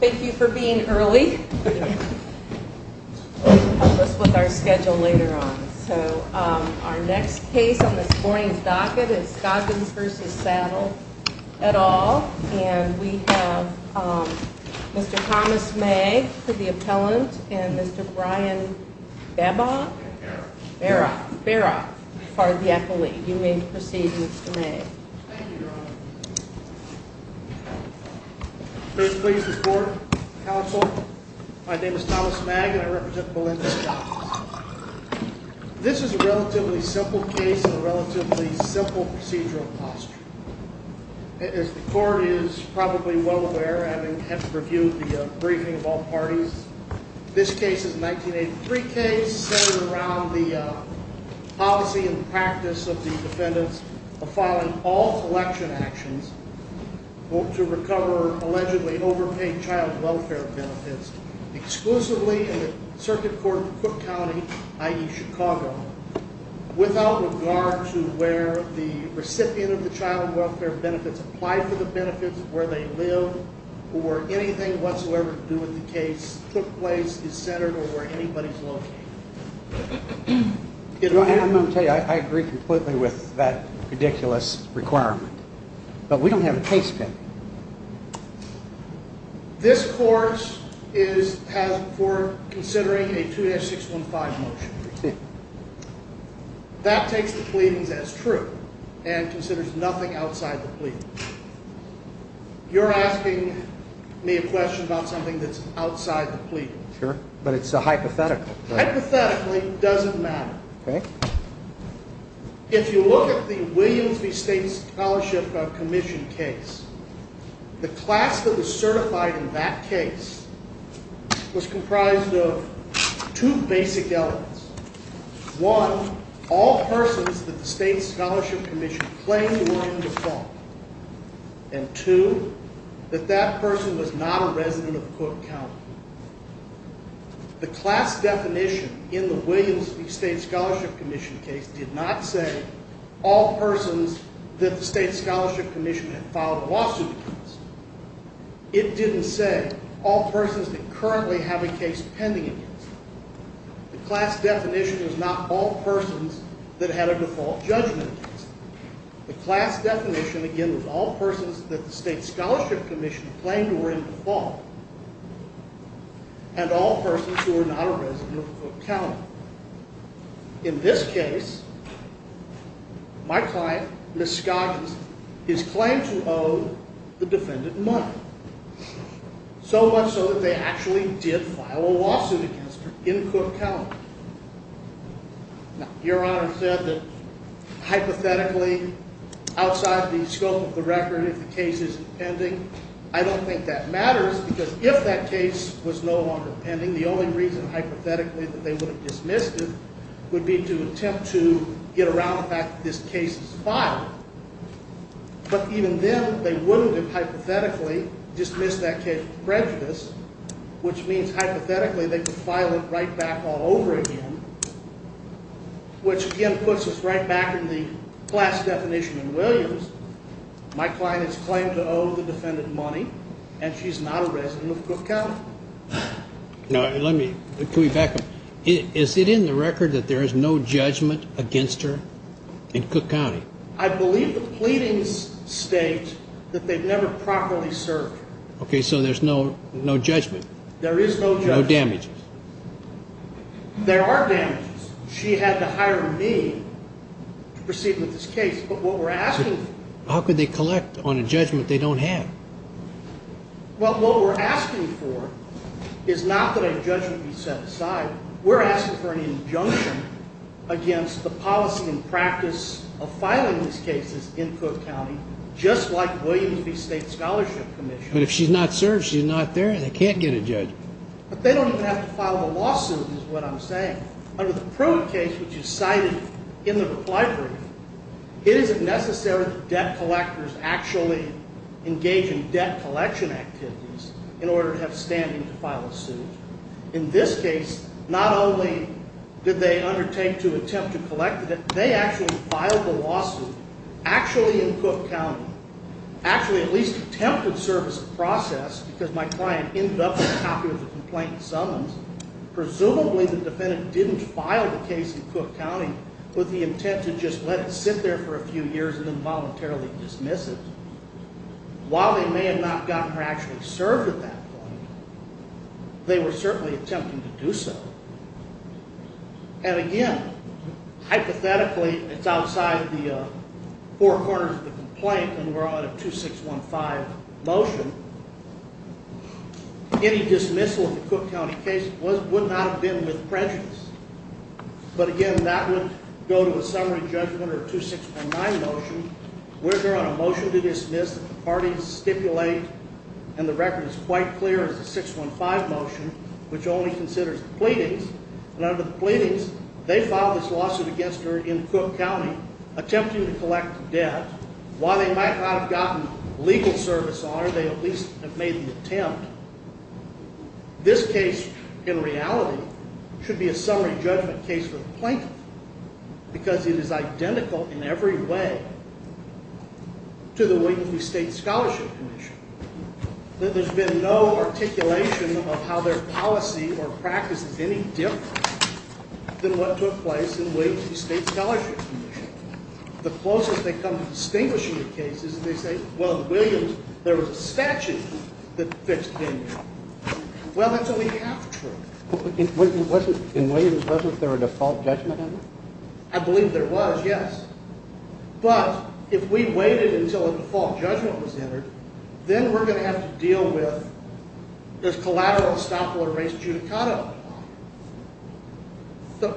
Thank you for being early. You can help us with our schedule later on. Our next case on this morning's docket is Scoggins v. Saddler, et al. We have Mr. Thomas May for the appellant and Mr. Brian Baroff for the appellee. You may proceed, Mr. May. Thank you, Your Honor. Please please the court, counsel. My name is Thomas May and I represent Melinda Scoggins. This is a relatively simple case in a relatively simple procedural posture. As the court is probably well aware, having reviewed the briefing of all parties, this case is a 1983 case centered around the policy and practice of the defendants of following all election actions to recover allegedly overpaid child welfare benefits exclusively in the circuit court of Cook County, i.e. Chicago, without regard to where the recipient of the child welfare benefits applied for the benefits, where they live, or anything whatsoever to do with the case took place, is centered, or where anybody is located. Your Honor, I'm going to tell you, I agree completely with that ridiculous requirement, but we don't have a case pending. This court is for considering a 2-615 motion. That takes the pleadings as true and considers nothing outside the pleading. You're asking me a question about something that's outside the pleading. Sure, but it's a hypothetical. Hypothetically, it doesn't matter. If you look at the Williams v. State Scholarship Commission case, the class that was certified in that case was comprised of two basic elements. One, all persons that the State Scholarship Commission claimed were in default, and two, that that person was not a resident of Cook County. The class definition in the Williams v. State Scholarship Commission case did not say all persons that the State Scholarship Commission had filed a lawsuit against. It didn't say all persons that currently have a case pending against them. The class definition was not all persons that had a default judgment against them. The class definition, again, was all persons that the State Scholarship Commission claimed were in default, and all persons who were not a resident of Cook County. In this case, my client, Ms. Scoggins, is claimed to owe the defendant money, so much so that they actually did file a lawsuit against her in Cook County. Now, Your Honor said that hypothetically, outside the scope of the record, if the case isn't pending, I don't think that matters because if that case was no longer pending, the only reason hypothetically that they would have dismissed it would be to attempt to get around the fact that this case is filed. But even then, they wouldn't have hypothetically dismissed that case with prejudice, which means hypothetically they could file it right back all over again, which again puts us right back in the class definition in Williams. My client is claimed to owe the defendant money, and she's not a resident of Cook County. Now, let me back up. Is it in the record that there is no judgment against her in Cook County? I believe the pleadings state that they've never properly served her. Okay, so there's no judgment. There is no judgment. No damages. There are damages. She had to hire me to proceed with this case, but what we're asking for... How could they collect on a judgment they don't have? Well, what we're asking for is not that a judgment be set aside. We're asking for an injunction against the policy and practice of filing these cases in Cook County, just like Williams v. State Scholarship Commission. But if she's not served, she's not there, and they can't get a judge. But they don't even have to file the lawsuit is what I'm saying. Under the probe case, which is cited in the reply brief, it isn't necessary that debt collectors actually engage in debt collection activities in order to have standing to file a suit. In this case, not only did they undertake to attempt to collect it, they actually filed the lawsuit actually in Cook County, actually at least attempted to serve as a process because my client ended up with a copy of the complaint in summons. Presumably, the defendant didn't file the case in Cook County with the intent to just let it sit there for a few years and involuntarily dismiss it. While they may have not gotten her actually served at that point, they were certainly attempting to do so. And again, hypothetically, it's outside the four corners of the complaint, and we're on a 2615 motion. Any dismissal in the Cook County case would not have been with prejudice. But again, that would go to a summary judgment or a 2619 motion. We're here on a motion to dismiss that the parties stipulate, and the record is quite clear, it's a 615 motion, which only considers the pleadings. And under the pleadings, they filed this lawsuit against her in Cook County, attempting to collect the debt. While they might not have gotten legal service on her, they at least have made the attempt. This case, in reality, should be a summary judgment case for the plaintiff because it is identical in every way to the William E. State Scholarship Commission. There's been no articulation of how their policy or practice is any different than what took place in the William E. State Scholarship Commission. The closest they come to distinguishing the cases is they say, well, in the Williams, there was a statute that fixed him. Well, that's only half true. In Williams, wasn't there a default judgment? I believe there was, yes. But if we waited until a default judgment was entered, then we're going to have to deal with this collateral estoppel or race judicata. So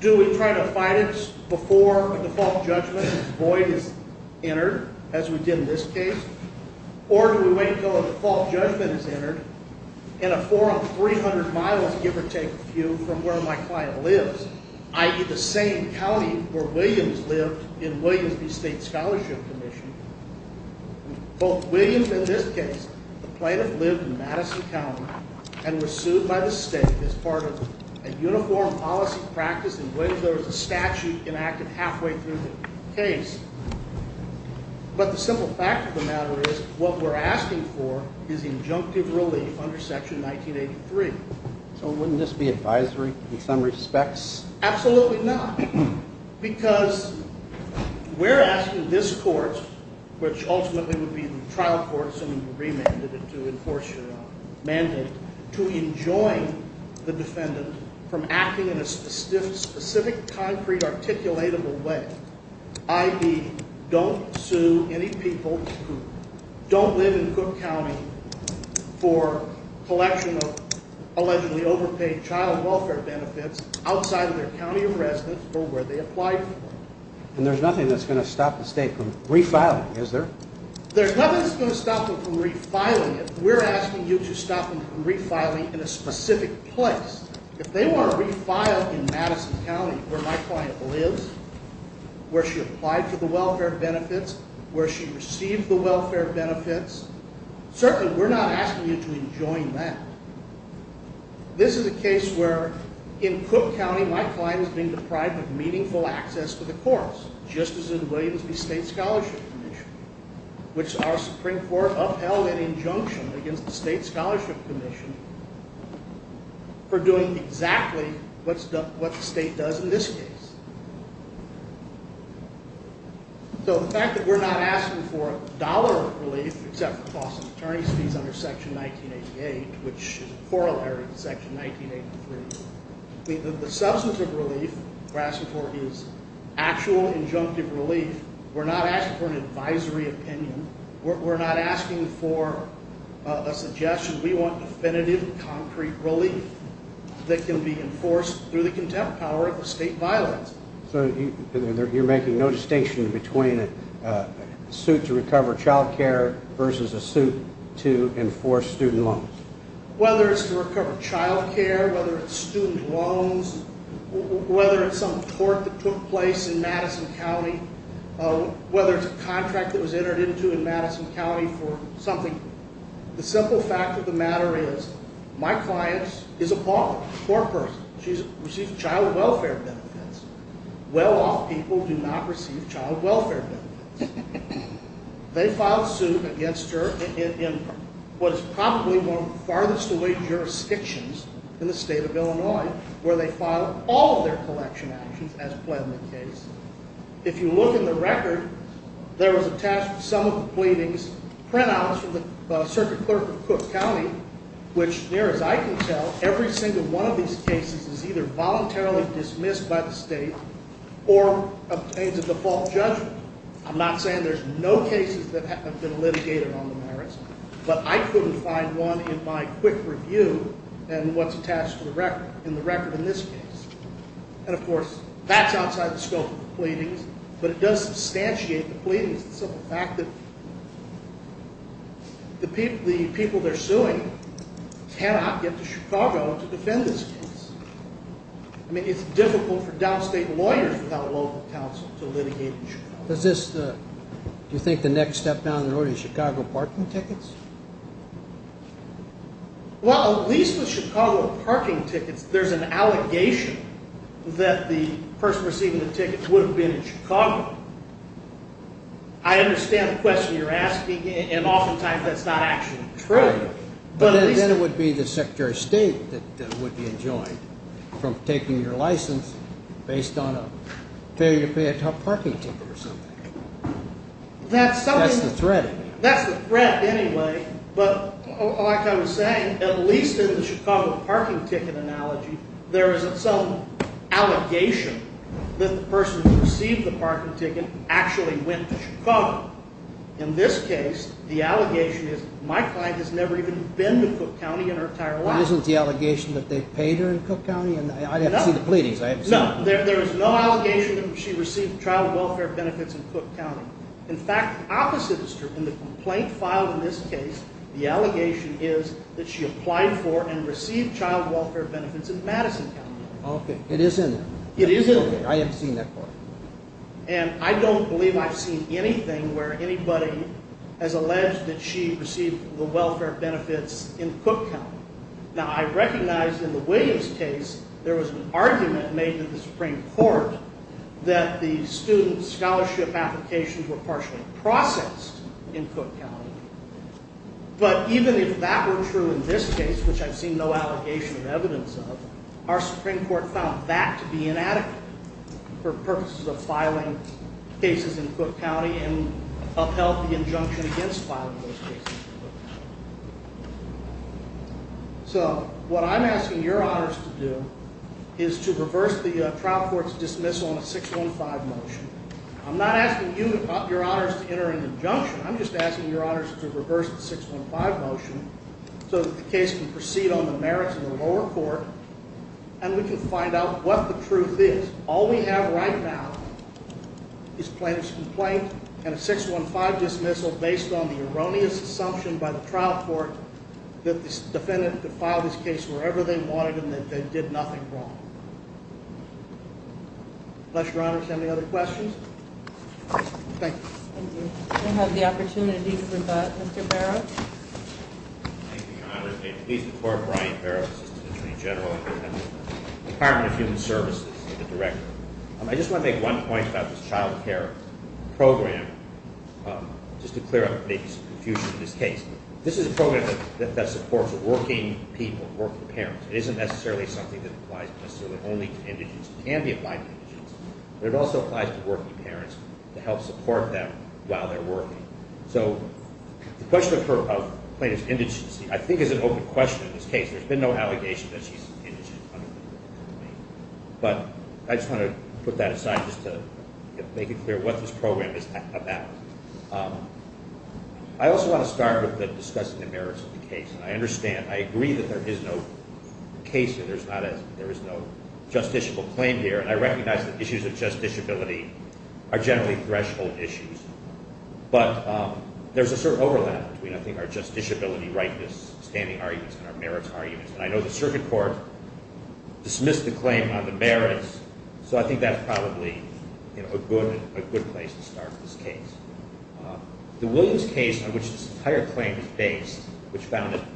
do we try to fight it before a default judgment void is entered, as we did in this case? Or do we wait until a default judgment is entered in a four-on-300-mile, give or take, view from where my client lives, i.e., the same county where Williams lived in Williams v. State Scholarship Commission? Both Williams and this case, the plaintiff lived in Madison County and was sued by the state as part of a uniform policy practice in Williams. There was a statute enacted halfway through the case. But the simple fact of the matter is what we're asking for is injunctive relief under Section 1983. So wouldn't this be advisory in some respects? Absolutely not, because we're asking this court, which ultimately would be the trial court, assuming you remanded it to enforce your mandate, to enjoin the defendant from acting in a specific, concrete, articulatable way, i.e., don't sue any people who don't live in Cook County for collection of allegedly overpaid child welfare benefits outside of their county of residence or where they applied for them. And there's nothing that's going to stop the state from refiling, is there? There's nothing that's going to stop them from refiling it. We're asking you to stop them from refiling in a specific place. If they want to refile in Madison County, where my client lives, where she applied for the welfare benefits, where she received the welfare benefits, certainly we're not asking you to enjoin that. This is a case where, in Cook County, my client is being deprived of meaningful access to the courts, just as in the Williams v. State Scholarship Commission, which our Supreme Court upheld an injunction against the State Scholarship Commission for doing exactly what the state does in this case. So the fact that we're not asking for dollar relief, except for costs of attorney's fees under Section 1988, which is a corollary to Section 1983, the substantive relief we're asking for is actual injunctive relief. We're not asking for an advisory opinion. We're not asking for a suggestion. We want definitive, concrete relief that can be enforced through the contempt power of the state violence. So you're making no distinction between a suit to recover child care versus a suit to enforce student loans? Whether it's to recover child care, whether it's student loans, whether it's some tort that took place in Madison County, whether it's a contract that was entered into in Madison County for something, the simple fact of the matter is my client is a poor person. She receives child welfare benefits. Well-off people do not receive child welfare benefits. They filed suit against her in what is probably one of the farthest away jurisdictions in the state of Illinois, where they filed all of their collection actions as pled in the case. If you look in the record, there was attached with some of the pleadings printouts from the circuit clerk of Cook County, which, near as I can tell, every single one of these cases is either voluntarily dismissed by the state or obtains a default judgment. I'm not saying there's no cases that have been litigated on the merits, but I couldn't find one in my quick review and what's attached to the record in the record in this case. And, of course, that's outside the scope of the pleadings, but it does substantiate the pleadings, the simple fact that the people they're suing cannot get to Chicago to defend this case. I mean, it's difficult for downstate lawyers without a local counsel to litigate in Chicago. Does this – do you think the next step down the road is Chicago parking tickets? Well, at least with Chicago parking tickets, there's an allegation that the person receiving the tickets would have been in Chicago. I understand the question you're asking, and oftentimes that's not actually true. But then it would be the Secretary of State that would be enjoined from taking your license based on a failure to pay a parking ticket or something. That's the threat. That's the threat anyway. But like I was saying, at least in the Chicago parking ticket analogy, there is some allegation that the person who received the parking ticket actually went to Chicago. In this case, the allegation is my client has never even been to Cook County in her entire life. Isn't the allegation that they paid her in Cook County? I'd have to see the pleadings. No, there is no allegation that she received child welfare benefits in Cook County. In fact, the opposite is true. In the complaint filed in this case, the allegation is that she applied for and received child welfare benefits in Madison County. Okay. It is in there. It is in there. Okay. I have seen that part. And I don't believe I've seen anything where anybody has alleged that she received the welfare benefits in Cook County. Now, I recognize in the Williams case there was an argument made to the Supreme Court that the student scholarship applications were partially processed in Cook County. But even if that were true in this case, which I've seen no allegation or evidence of, our Supreme Court found that to be inadequate for purposes of filing cases in Cook County and upheld the injunction against filing those cases in Cook County. So what I'm asking your honors to do is to reverse the trial court's dismissal on a 615 motion. I'm not asking you, your honors, to enter an injunction. I'm just asking your honors to reverse the 615 motion so that the case can proceed on the merits of the lower court and we can find out what the truth is. All we have right now is plaintiff's complaint and a 615 dismissal based on the erroneous assumption by the trial court that this defendant could file this case wherever they wanted and that they did nothing wrong. Bless your honors. Any other questions? Thank you. Thank you. We'll have the opportunity to rebut. Mr. Barrow? Thank you, your honors. Brian Barrow, Assistant Attorney General, Department of Human Services, the Director. I just want to make one point about this child care program just to clear up the confusion in this case. This is a program that supports working people, working parents. It isn't necessarily something that applies necessarily only to indigents. It can be applied to indigents, but it also applies to working parents to help support them while they're working. So the question of plaintiff's indigency I think is an open question in this case. There's been no allegation that she's indigent. But I just want to put that aside just to make it clear what this program is about. I also want to start with discussing the merits of the case, and I understand. I agree that there is no case here. There is no justiciable claim here, and I recognize that issues of justiciability are generally threshold issues. But there's a sort of overlap between, I think, our justiciability, rightness, standing arguments, and our merits arguments. And I know the circuit court dismissed the claim on the merits, so I think that's probably a good place to start this case. The Williams case on which this entire claim is based, which found a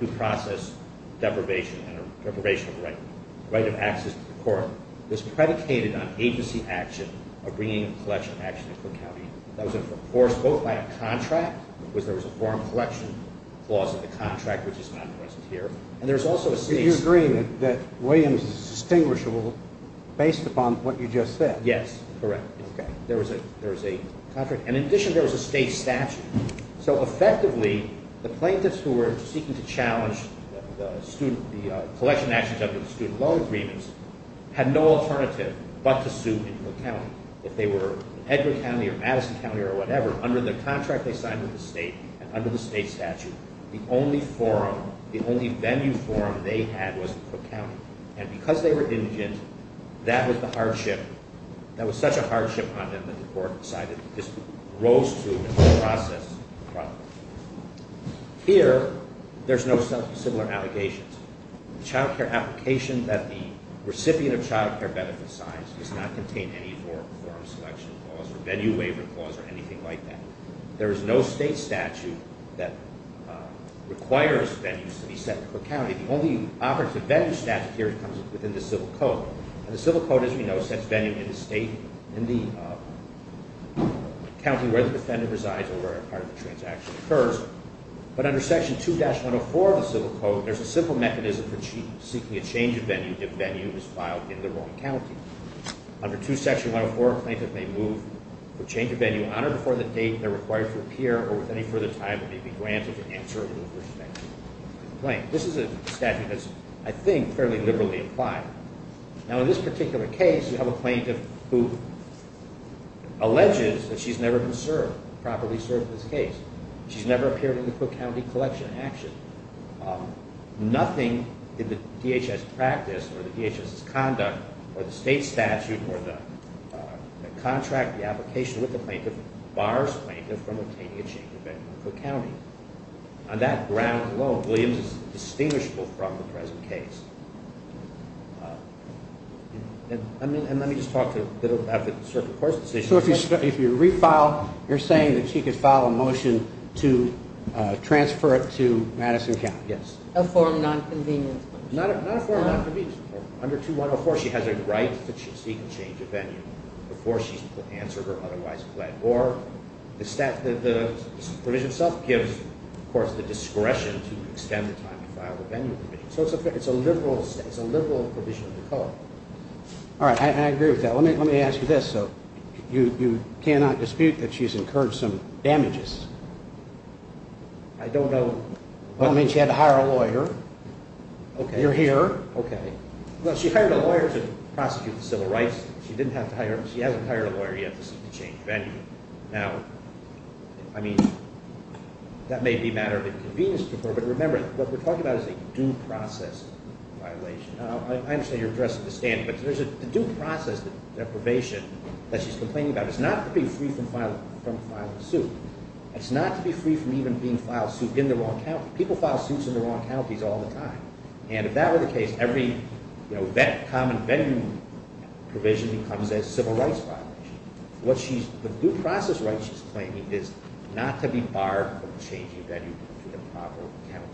due process deprivation and a deprivation of the right of access to the court, is predicated on agency action of bringing a collection of action to Cook County. That was enforced both by a contract, because there was a foreign collection clause in the contract, which is not present here, and there's also a state statute. So you agree that Williams is distinguishable based upon what you just said? Yes, correct. Okay. There was a contract. And in addition, there was a state statute. So effectively, the plaintiffs who were seeking to challenge the collection of actions under the student loan agreements had no alternative but to sue in Cook County. If they were in Edgar County or Madison County or whatever, under the contract they signed with the state and under the state statute, the only forum, the only venue forum they had was in Cook County. And because they were indigent, that was the hardship. That was such a hardship on them that the court decided this rose to a due process problem. Here, there's no similar allegations. The child care application that the recipient of child care benefit signs does not contain any forum selection clause or venue waiver clause or anything like that. There is no state statute that requires venues to be set in Cook County. The only operative venue statute here comes within the civil code. And the civil code, as we know, sets venue in the state, in the county where the defendant resides or where a part of the transaction occurs. But under Section 2-104 of the civil code, there's a simple mechanism for seeking a change of venue if venue is filed in the wrong county. Under 2 Section 104, a plaintiff may move for change of venue on or before the date they're required to appear or with any further time may be granted to answer in respect to the complaint. This is a statute that's, I think, fairly liberally applied. Now, in this particular case, you have a plaintiff who alleges that she's never been served, properly served in this case. She's never appeared in the Cook County collection of action. Nothing in the DHS practice or the DHS's conduct or the state statute or the contract, the application with the plaintiff, bars the plaintiff from obtaining a change of venue in Cook County. On that ground alone, Williams is distinguishable from the present case. And let me just talk a little bit about the circuit court's decision. So if you refile, you're saying that she could file a motion to transfer it to Madison County? Yes. A form of nonconvenience. Not a form of nonconvenience. Under 2-104, she has a right to seek a change of venue before she's answered or otherwise pled. Or the provision itself gives, of course, the discretion to extend the time to file the venue. So it's a liberal provision of the code. All right. I agree with that. Let me ask you this. So you cannot dispute that she's incurred some damages? I don't know. That means she had to hire a lawyer. Okay. You're here. Okay. Well, she hired a lawyer to prosecute the civil rights. She hasn't hired a lawyer yet to seek a change of venue. Now, I mean, that may be a matter of inconvenience to her. But remember, what we're talking about is a due process violation. I understand you're addressing the standing, but there's a due process deprivation that she's complaining about. It's not to be free from filing a suit. It's not to be free from even being filed suit in the wrong county. People file suits in the wrong counties all the time. And if that were the case, every common venue provision becomes a civil rights violation. The due process right she's claiming is not to be barred from changing venue to the proper county.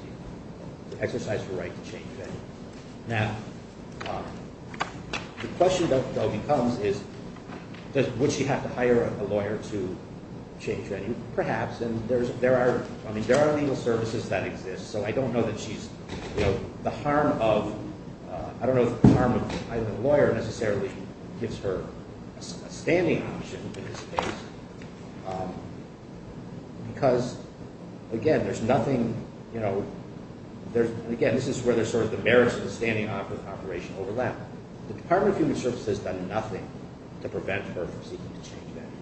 It's an exercise of the right to change venue. Now, the question, though, becomes is would she have to hire a lawyer to change venue? Perhaps. And there are legal services that exist. So I don't know that she's, you know, the harm of, I don't know if the harm of hiring a lawyer necessarily gives her a standing option in this case. Because, again, there's nothing, you know, there's, again, this is where there's sort of the merits of the standing operation overlap. The Department of Human Services has done nothing to prevent her from seeking to change venue.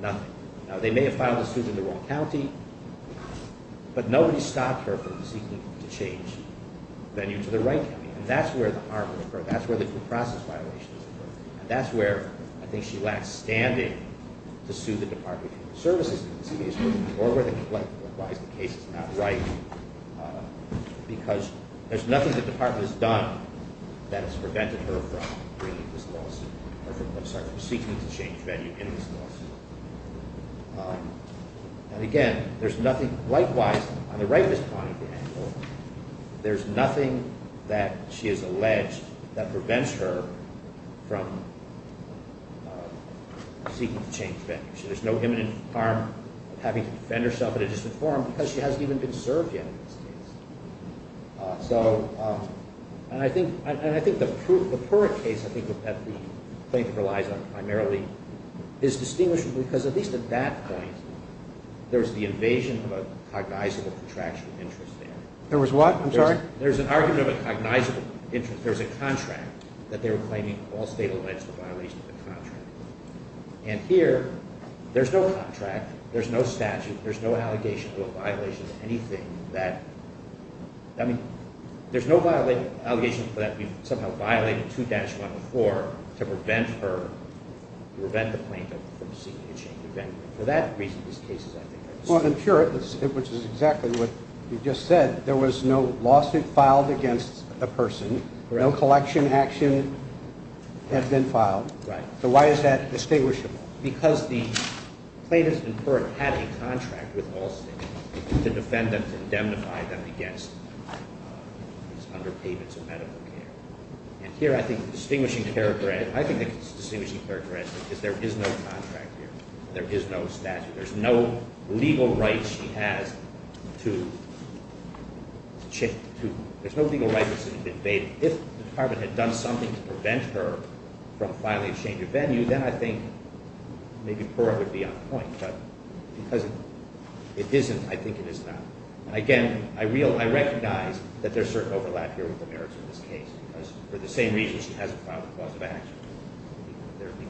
Nothing. Now, they may have filed a suit in the wrong county, but nobody stopped her from seeking to change venue to the right county. And that's where the harm would occur. That's where the due process violations occur. And that's where I think she lacks standing to sue the Department of Human Services in this case or where the complaint requires the case is not right. Because there's nothing the Department has done that has prevented her from seeking to change venue in this lawsuit. And, again, there's nothing. Likewise, on the right is Connie Daniels. There's nothing that she has alleged that prevents her from seeking to change venue. So there's no imminent harm of having to defend herself in a disinformed because she hasn't even been served yet in this case. So, and I think the Pura case, I think, that the plaintiff relies on primarily is distinguished because at least at that point, there's the invasion of a cognizable contractual interest there. There was what? I'm sorry? There's an argument of a cognizable interest. There's a contract that they were claiming all state alleged violation of the contract. And here, there's no contract. There's no statute. There's no allegation to a violation of anything that, I mean, there's no allegations that we've somehow violated 2-1 before to prevent her, to prevent the plaintiff from seeking to change venue. For that reason, this case is, I think. Well, in Pura, which is exactly what you just said, there was no lawsuit filed against a person. No collection action has been filed. Right. So why is that distinguishable? Because the plaintiff in Pura had a contract with all states to defend them, to indemnify them against these underpayments of medical care. And here, I think the distinguishing characteristic, I think the distinguishing characteristic is there is no contract here. There is no statute. There's no legal right she has to, there's no legal right that's invaded. If the department had done something to prevent her from filing a change of venue, then I think maybe Pura would be on point. But because it isn't, I think it is not. And again, I recognize that there's certain overlap here with the merits of this case because for the same reason she hasn't filed a clause of action.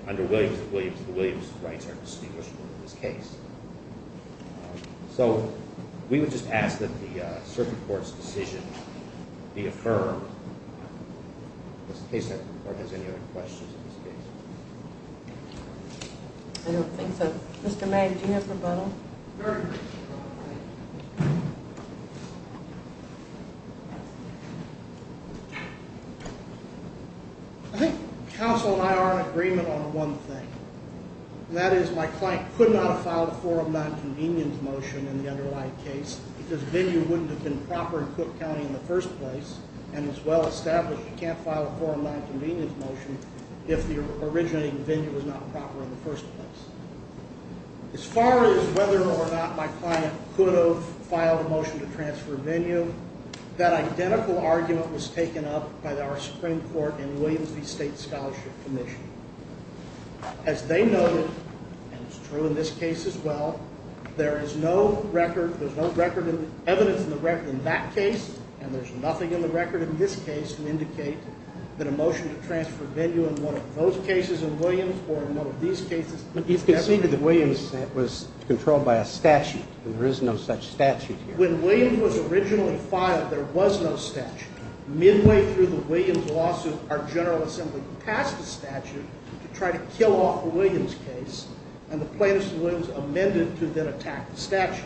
Under Williams, the Williams rights are distinguishable in this case. So we would just ask that the circuit court's decision be affirmed. In case the court has any other questions in this case. I don't think so. Mr. Mayne, do you have a rebuttal? Very briefly. I think counsel and I are in agreement on one thing. And that is my client could not have filed a forum nonconvenience motion in the underlying case because venue wouldn't have been proper in Cook County in the first place. And it's well established you can't file a forum nonconvenience motion if the originating venue was not proper in the first place. As far as whether or not my client could have filed a motion to transfer venue, that identical argument was taken up by our Supreme Court and Williams v. State Scholarship Commission. As they noted, and it's true in this case as well, there is no record, there's no record of evidence in the record in that case. And there's nothing in the record in this case to indicate that a motion to transfer venue in one of those cases in Williams or in one of these cases. But he's conceded that Williams was controlled by a statute and there is no such statute here. When Williams was originally filed, there was no statute. Midway through the Williams lawsuit, our General Assembly passed a statute to try to kill off a Williams case. And the plaintiffs in Williams amended to then attack the statute.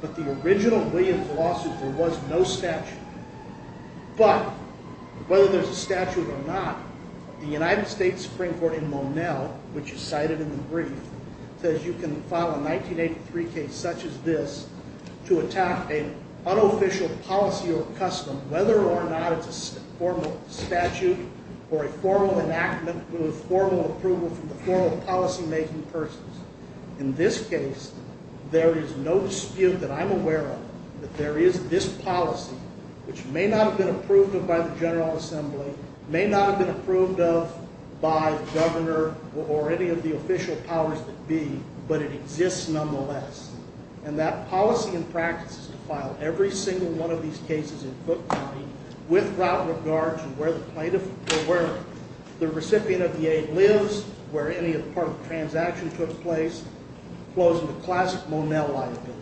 But the original Williams lawsuit, there was no statute. But whether there's a statute or not, the United States Supreme Court in Monel, which is cited in the brief, says you can file a 1983 case such as this to attack an unofficial policy or custom, whether or not it's a formal statute or a formal enactment with formal approval from the formal policymaking persons. In this case, there is no dispute that I'm aware of that there is this policy, which may not have been approved of by the General Assembly, may not have been approved of by the governor or any of the official powers that be, but it exists nonetheless. And that policy and practice is to file every single one of these cases in Foote County with route regard to where the recipient of the aid lives, where any part of the transaction took place, closing the classic Monel liability.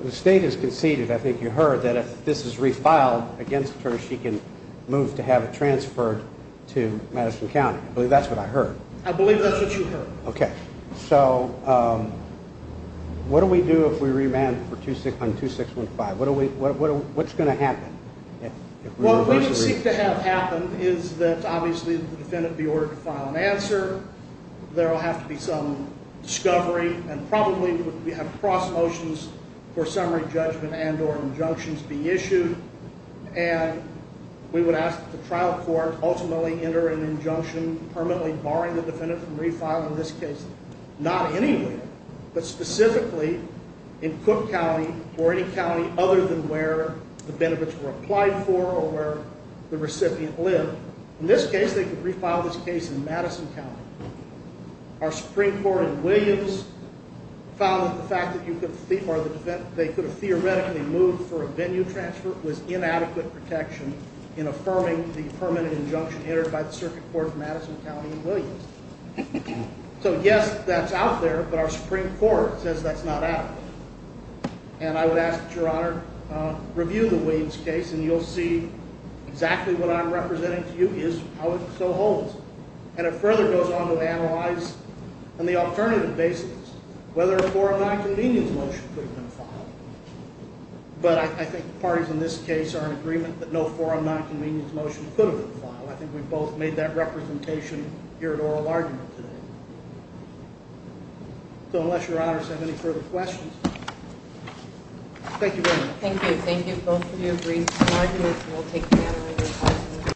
The state has conceded, I think you heard, that if this is refiled against her, she can move to have it transferred to Madison County. I believe that's what I heard. I believe that's what you heard. Okay. So what do we do if we remand on 2615? What's going to happen? What we would seek to have happen is that, obviously, the defendant be ordered to file an answer. There will have to be some discovery, and probably we have cross motions for summary judgment and or injunctions be issued. And we would ask that the trial court ultimately enter an injunction permanently barring the defendant from refiling this case, not anywhere, but specifically in Foote County or any county other than where the benefits were applied for or where the recipient lived. In this case, they could refile this case in Madison County. Our Supreme Court in Williams found that the fact that they could have theoretically moved for a venue transfer was inadequate protection in affirming the permanent injunction entered by the circuit court in Madison County in Williams. So, yes, that's out there, but our Supreme Court says that's not adequate. And I would ask that Your Honor review the Williams case, and you'll see exactly what I'm representing to you is how it so holds. And it further goes on to analyze on the alternative basis whether a forum nonconvenience motion could have been filed. But I think the parties in this case are in agreement that no forum nonconvenience motion could have been filed. I think we've both made that representation here at oral argument today. So unless Your Honor has any further questions. Thank you very much. Thank you. Thank you both for your brief arguments.